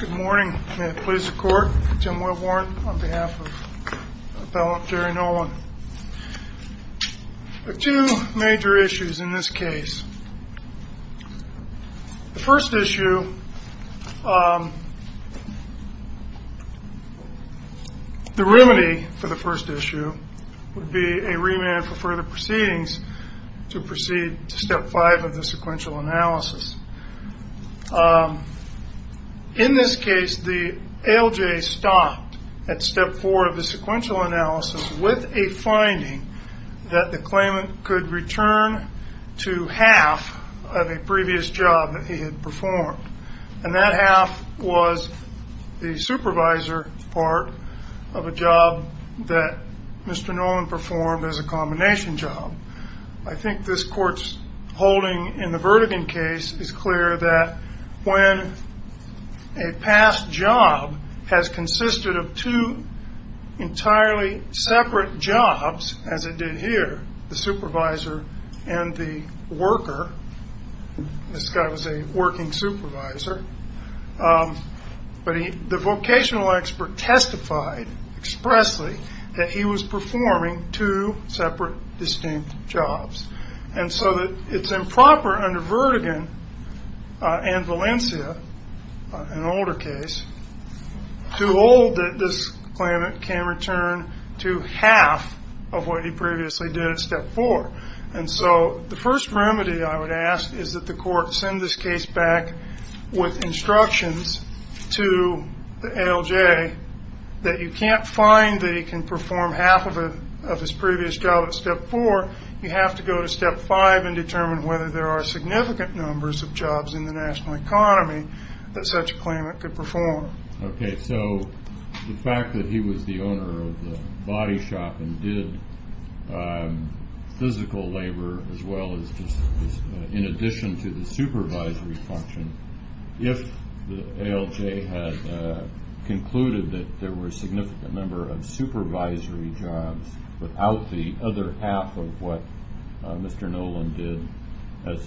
Good morning. May it please the court, Tim Woodward on behalf of a fellow Jerry Nolan. There are two major issues in this case. The first issue, the remedy for the first issue would be a remand for further proceedings to proceed to step five of the sequential analysis. In this case, the ALJ stopped at step four of the sequential analysis with a finding that the claimant could return to half of a previous job that he had performed. And that half was the supervisor part of a job that Mr. Nolan performed as a combination job. I think this court's holding in the Verdigan case is clear that when a past job has consisted of two entirely separate jobs, as it did here, the supervisor and the worker, this guy was a working supervisor, but the vocational expert testified expressly that he was performing two separate, distinct jobs. And so it's improper under Verdigan and Valencia, an older case, to hold that this claimant can return to half of what he previously did at step four. And so the first remedy I would ask is that the court send this case back with instructions to the ALJ that you can't find that he can perform half of his previous job at step four. You have to go to step five and determine whether there are significant numbers of jobs in the national economy that such a claimant could perform. Okay, so the fact that he was the owner of the body shop and did physical labor as well as just in addition to the supervisory function, if the ALJ had concluded that there were a significant number of supervisory jobs without the other half of what Mr. Nolan did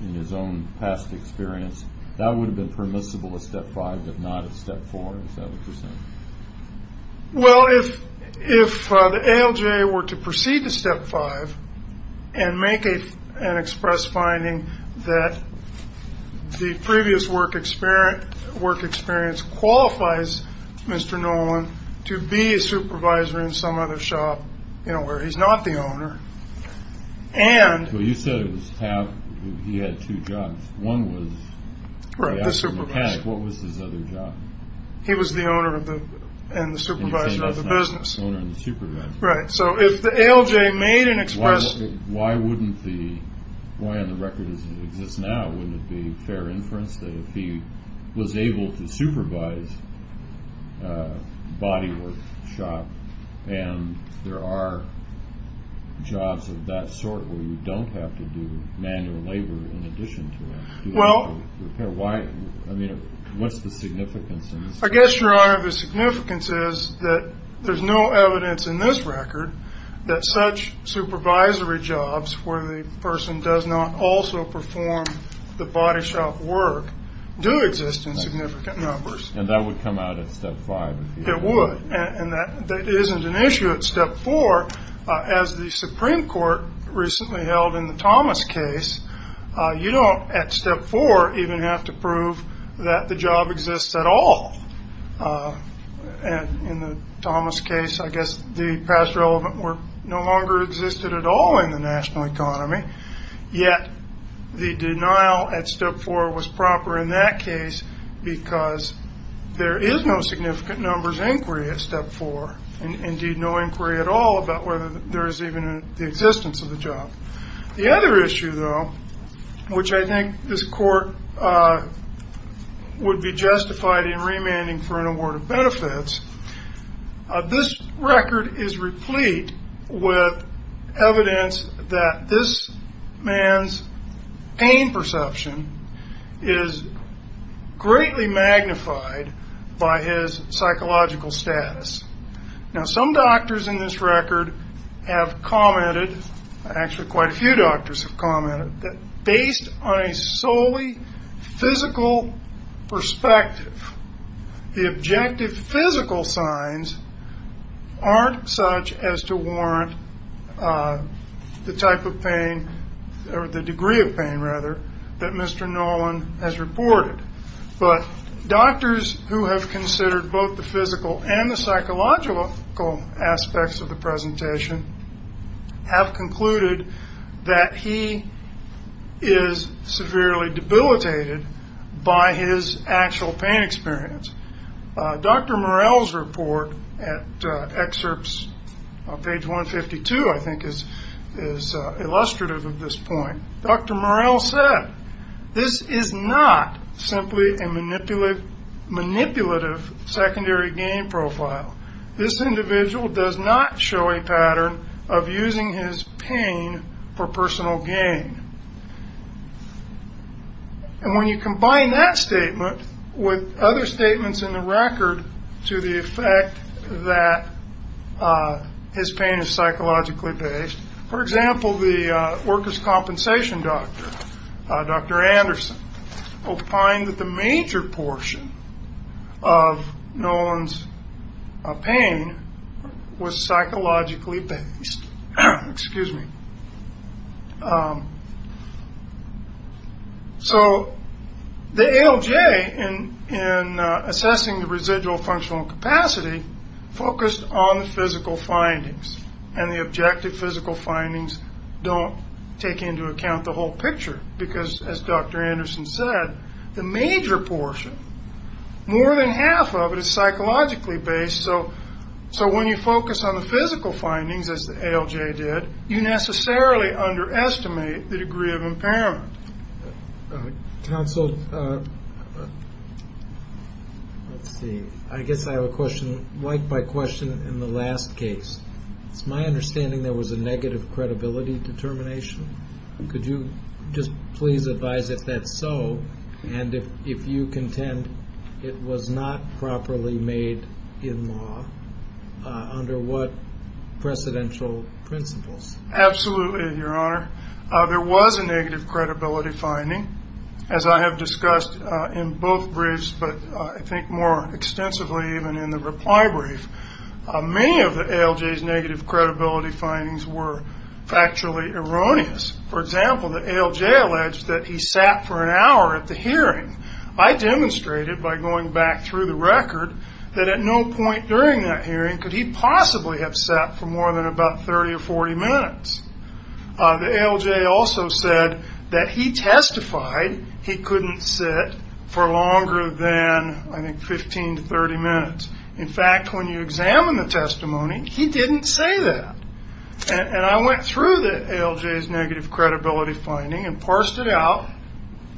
in his own past experience, that would have been permissible at step five, but not at step four, is that what you're saying? Well, if the ALJ were to proceed to step five and make an express finding that the previous work experience qualifies Mr. Nolan to be a supervisor in some other shop, you know, where he's not the owner. Well, you said he had two jobs. One was the actual mechanic. What was his other job? He was the owner and the supervisor of the business. Right, so if the ALJ made an express... where you don't have to do manual labor in addition to it? Well... I mean, what's the significance? I guess, Your Honor, the significance is that there's no evidence in this record that such supervisory jobs where the person does not also perform the body shop work do exist in significant numbers. And that would come out at step five. It would. And that isn't an issue at step four. As the Supreme Court recently held in the Thomas case, you don't, at step four, even have to prove that the job exists at all. And in the Thomas case, I guess the past relevant work no longer existed at all in the national economy. Yet the denial at step four was proper in that case because there is no significant numbers inquiry at step four. Indeed, no inquiry at all about whether there is even the existence of the job. The other issue, though, which I think this court would be justified in remanding for an award of benefits. This record is replete with evidence that this man's pain perception is greatly magnified by his psychological status. Now, some doctors in this record have commented, actually quite a few doctors have commented, that based on a solely physical perspective, the objective physical signs aren't such as to warrant the type of pain or the degree of pain, rather, that Mr. Noland has reported. But doctors who have considered both the physical and the psychological aspects of the presentation have concluded that he is severely debilitated by his actual pain experience. Dr. Morrell's report at excerpts on page 152, I think, is illustrative of this point. Dr. Morrell said, this is not simply a manipulative secondary gain profile. This individual does not show a pattern of using his pain for personal gain. And when you combine that statement with other statements in the record to the effect that his pain is psychologically based, for example, the workers' compensation doctor, Dr. Anderson, opined that the major portion of Noland's pain was psychologically based. So, the ALJ, in assessing the residual functional capacity, focused on the physical findings. And the objective physical findings don't take into account the whole picture. Because, as Dr. Anderson said, the major portion, more than half of it, is psychologically based. So, when you focus on the physical findings, as the ALJ did, you necessarily underestimate the degree of impairment. Counsel, I guess I have a question, like my question in the last case. It's my understanding there was a negative credibility determination. Could you just please advise if that's so, and if you contend it was not properly made in law, under what precedential principles? Absolutely, Your Honor. There was a negative credibility finding, as I have discussed in both briefs, but I think more extensively even in the reply brief. Many of the ALJ's negative credibility findings were factually erroneous. For example, the ALJ alleged that he sat for an hour at the hearing. I demonstrated, by going back through the record, that at no point during that hearing could he possibly have sat for more than about 30 or 40 minutes. The ALJ also said that he testified he couldn't sit for longer than, I think, 15 to 30 minutes. In fact, when you examine the testimony, he didn't say that. And I went through the ALJ's negative credibility finding and parsed it out,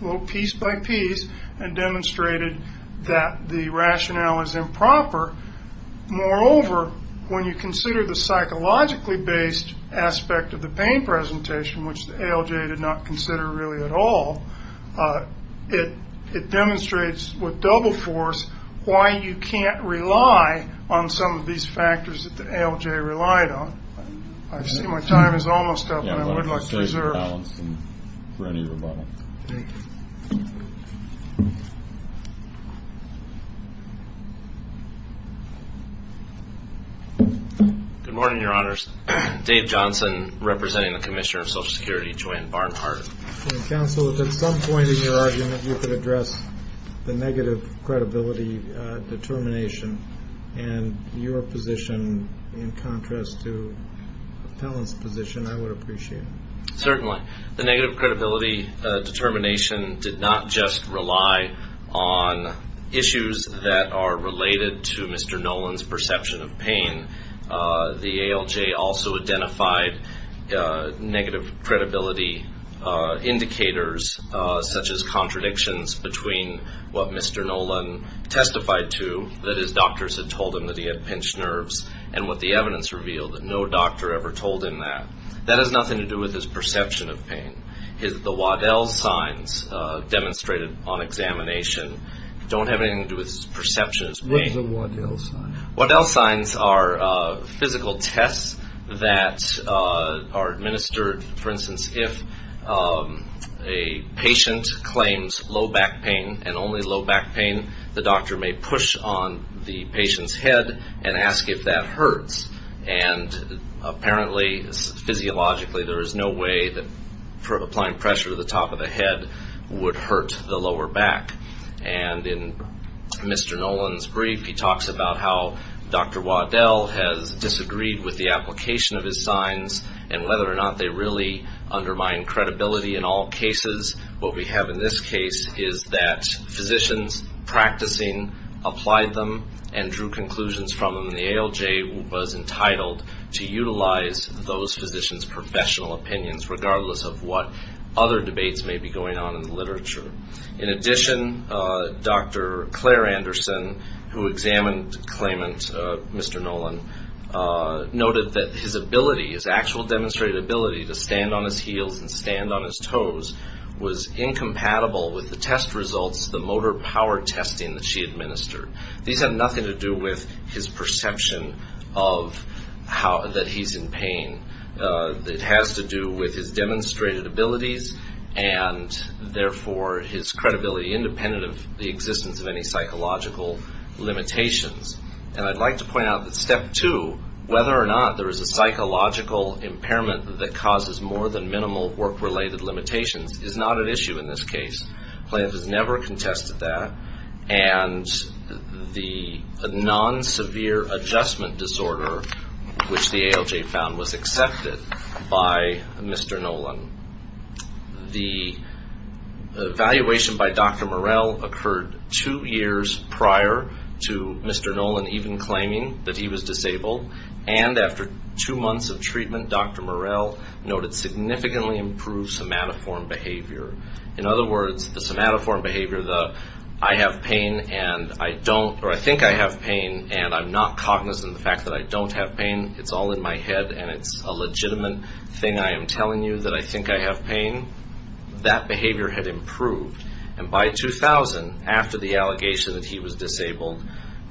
little piece by piece, and demonstrated that the rationale is improper. Moreover, when you consider the psychologically based aspect of the pain presentation, which the ALJ did not consider really at all, it demonstrates, with double force, why you can't rely on some of these factors that the ALJ relied on. I see my time is almost up, and I would like to reserve it. Good morning, Your Honors. Dave Johnson representing the Commissioner of Social Security, Joanne Barnhart. Counsel, if at some point in your argument you could address the negative credibility determination and your position in contrast to the appellant's position, I would appreciate it. Certainly. The negative credibility determination did not just rely on issues that are related to Mr. Nolan's perception of pain. The ALJ also identified negative credibility indicators, such as contradictions between what Mr. Nolan testified to, that his doctors had told him that he had pinched nerves, and what the evidence revealed, that no doctor ever told him that. That has nothing to do with his perception of pain. The Waddell signs demonstrated on examination don't have anything to do with his perception of pain. What are the Waddell signs? Waddell signs are physical tests that are administered, for instance, if a patient claims low back pain, and only low back pain, the doctor may push on the patient's head and ask if that hurts. And apparently, physiologically, there is no way that applying pressure to the top of the head would hurt the lower back. And in Mr. Nolan's brief, he talks about how Dr. Waddell has disagreed with the application of his signs and whether or not they really undermine credibility in all cases. What we have in this case is that physicians practicing applied them and drew conclusions from them, and the ALJ was entitled to utilize those physicians' professional opinions, regardless of what other debates may be going on in the literature. In addition, Dr. Claire Anderson, who examined claimant Mr. Nolan, noted that his ability, his actual demonstrated ability to stand on his heels and stand on his toes, was incompatible with the test results, the motor power testing that she administered. These have nothing to do with his perception that he's in pain. It has to do with his demonstrated abilities and, therefore, his credibility, independent of the existence of any psychological limitations. And I'd like to point out that step two, whether or not there is a psychological impairment that causes more than minimal work-related limitations, is not an issue in this case. Claimant has never contested that, and the non-severe adjustment disorder, which the ALJ found, was accepted by Mr. Nolan. The evaluation by Dr. Murrell occurred two years prior to Mr. Nolan even claiming that he was disabled, and after two months of treatment, Dr. Murrell noted significantly improved somatoform behavior. In other words, the somatoform behavior, the I have pain and I don't, or I think I have pain and I'm not cognizant of the fact that I don't have pain, it's all in my head and it's a legitimate thing I am telling you that I think I have pain, that behavior had improved. And by 2000, after the allegation that he was disabled,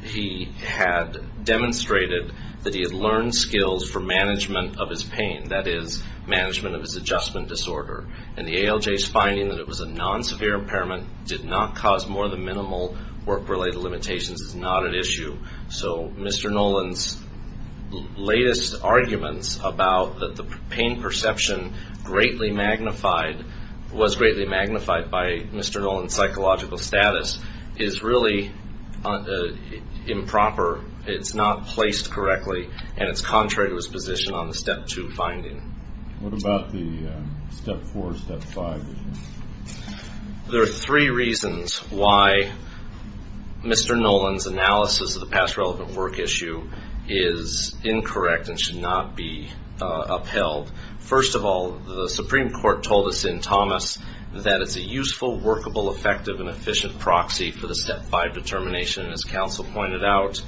he had demonstrated that he had learned skills for management of his pain, that is, management of his adjustment disorder. And the ALJ's finding that it was a non-severe impairment, did not cause more than minimal work-related limitations, is not an issue. So Mr. Nolan's latest arguments about the pain perception greatly magnified, was greatly magnified by Mr. Nolan's psychological status, is really improper. It's not placed correctly, and it's contrary to his position on the Step 2 finding. What about the Step 4, Step 5? There are three reasons why Mr. Nolan's analysis of the past relevant work issue is incorrect and should not be upheld. First of all, the Supreme Court told us in Thomas that it's a useful, workable, effective, and efficient proxy for the Step 5 determination. As counsel pointed out,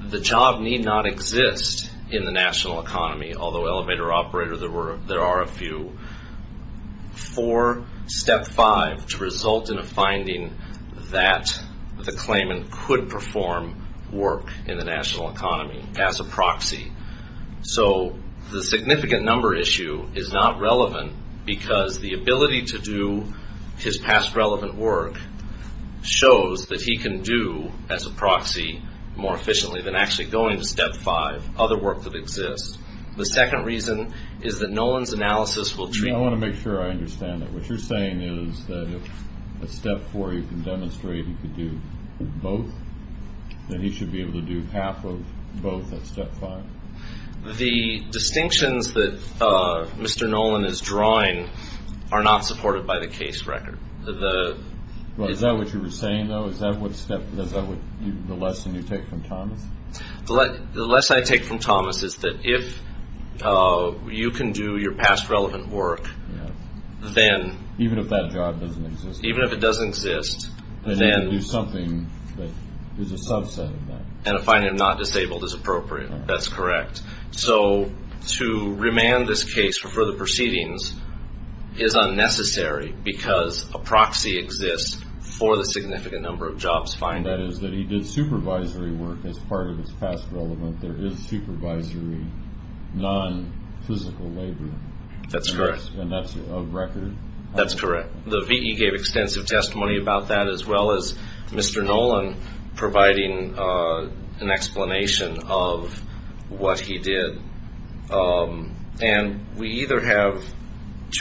the job need not exist in the national economy, although elevator operator there are a few, for Step 5 to result in a finding that the claimant could perform work in the national economy as a proxy. So the significant number issue is not relevant because the ability to do his past relevant work shows that he can do, as a proxy, more efficiently than actually going to Step 5, other work that exists. The second reason is that Nolan's analysis will treat- I want to make sure I understand that. What you're saying is that if at Step 4 you can demonstrate he could do both, that he should be able to do half of both at Step 5? The distinctions that Mr. Nolan is drawing are not supported by the case record. Is that what you were saying, though? Is that the lesson you take from Thomas? The lesson I take from Thomas is that if you can do your past relevant work, then- Even if that job doesn't exist. Even if it doesn't exist, then- Then you can do something that is a subset of that. And a finding of not disabled is appropriate. That's correct. So to remand this case for further proceedings is unnecessary because a proxy exists for the significant number of jobs finding. That is, that he did supervisory work as part of his past relevant. There is supervisory non-physical labor. That's correct. And that's a record? That's correct. The V.E. gave extensive testimony about that, as well as Mr. Nolan providing an explanation of what he did. And we either have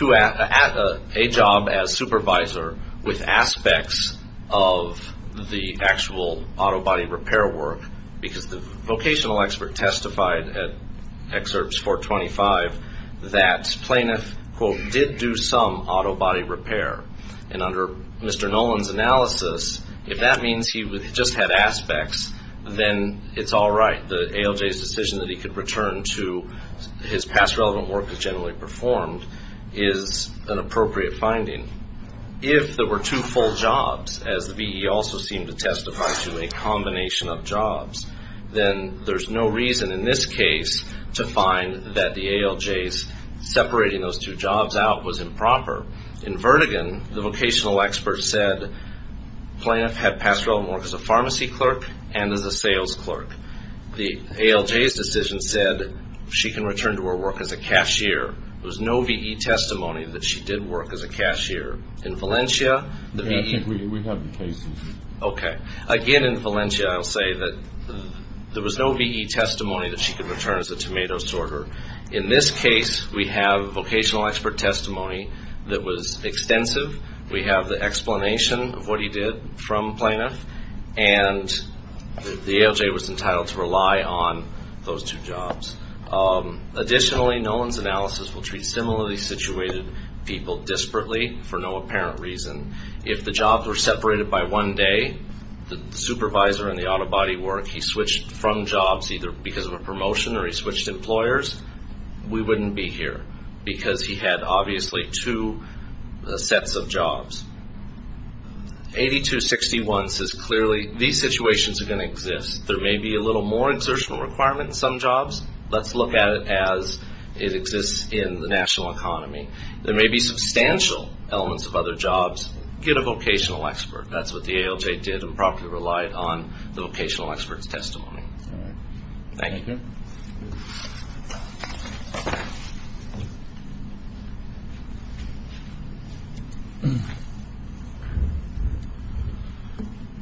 a job as supervisor with aspects of the actual auto body repair work, because the vocational expert testified at Excerpts 425 that plaintiff, quote, did do some auto body repair. And under Mr. Nolan's analysis, if that means he just had aspects, then it's all right. The ALJ's decision that he could return to his past relevant work as generally performed is an appropriate finding. If there were two full jobs, as the V.E. also seemed to testify to a combination of jobs, then there's no reason in this case to find that the ALJ's separating those two jobs out was improper. In Vertigan, the vocational expert said plaintiff had past relevant work as a pharmacy clerk and as a sales clerk. The ALJ's decision said she can return to her work as a cashier. There was no V.E. testimony that she did work as a cashier. In Valencia, the V.E. We have cases. Okay. Again, in Valencia, I'll say that there was no V.E. testimony that she could return as a tomato sorter. In this case, we have vocational expert testimony that was extensive. We have the explanation of what he did from plaintiff. And the ALJ was entitled to rely on those two jobs. Additionally, Nolan's analysis will treat similarly situated people desperately for no apparent reason. If the jobs were separated by one day, the supervisor and the auto body work, he switched from jobs either because of a promotion or he switched employers, we wouldn't be here because he had obviously two sets of jobs. 8261 says clearly these situations are going to exist. There may be a little more exertional requirement in some jobs. Let's look at it as it exists in the national economy. There may be substantial elements of other jobs. Get a vocational expert. That's what the ALJ did and properly relied on the vocational expert's testimony. All right. Thank you. Thank you.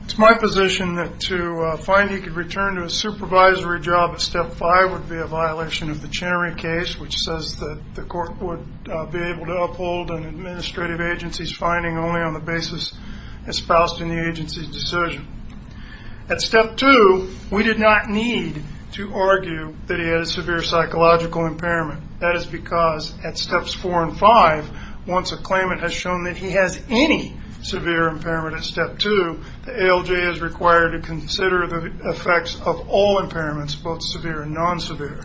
It's my position that to find he could return to a supervisory job at step five would be a violation of the Chenery case, which says that the court would be able to uphold an administrative agency's finding only on the basis espoused in the agency's decision. At step two, we did not need to argue that he had a severe psychological impairment. That is because at steps four and five, once a claimant has shown that he has any severe impairment at step two, the ALJ is required to consider the effects of all impairments, both severe and non-severe.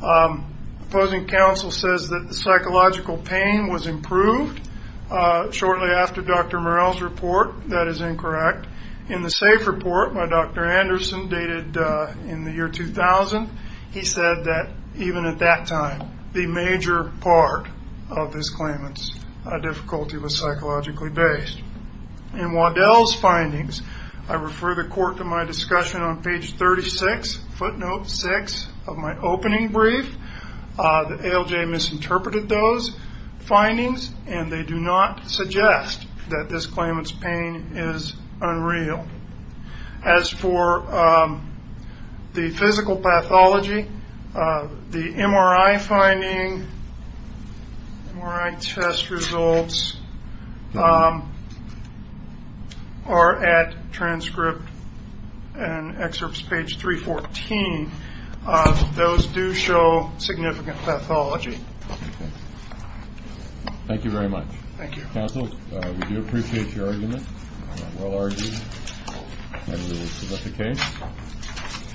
Opposing counsel says that the psychological pain was improved shortly after Dr. Morell's report. That is incorrect. In the SAFE report by Dr. Anderson dated in the year 2000, he said that even at that time the major part of his claimant's difficulty was psychologically based. In Waddell's findings, I refer the court to my discussion on page 36, footnote six of my opening brief. The ALJ misinterpreted those findings, and they do not suggest that this claimant's pain is unreal. As for the physical pathology, the MRI finding, MRI test results are at transcript and excerpts page 314. Those do show significant pathology. Thank you very much. Thank you. Thank you, counsel. We do appreciate your argument. Well argued. And we will submit the case.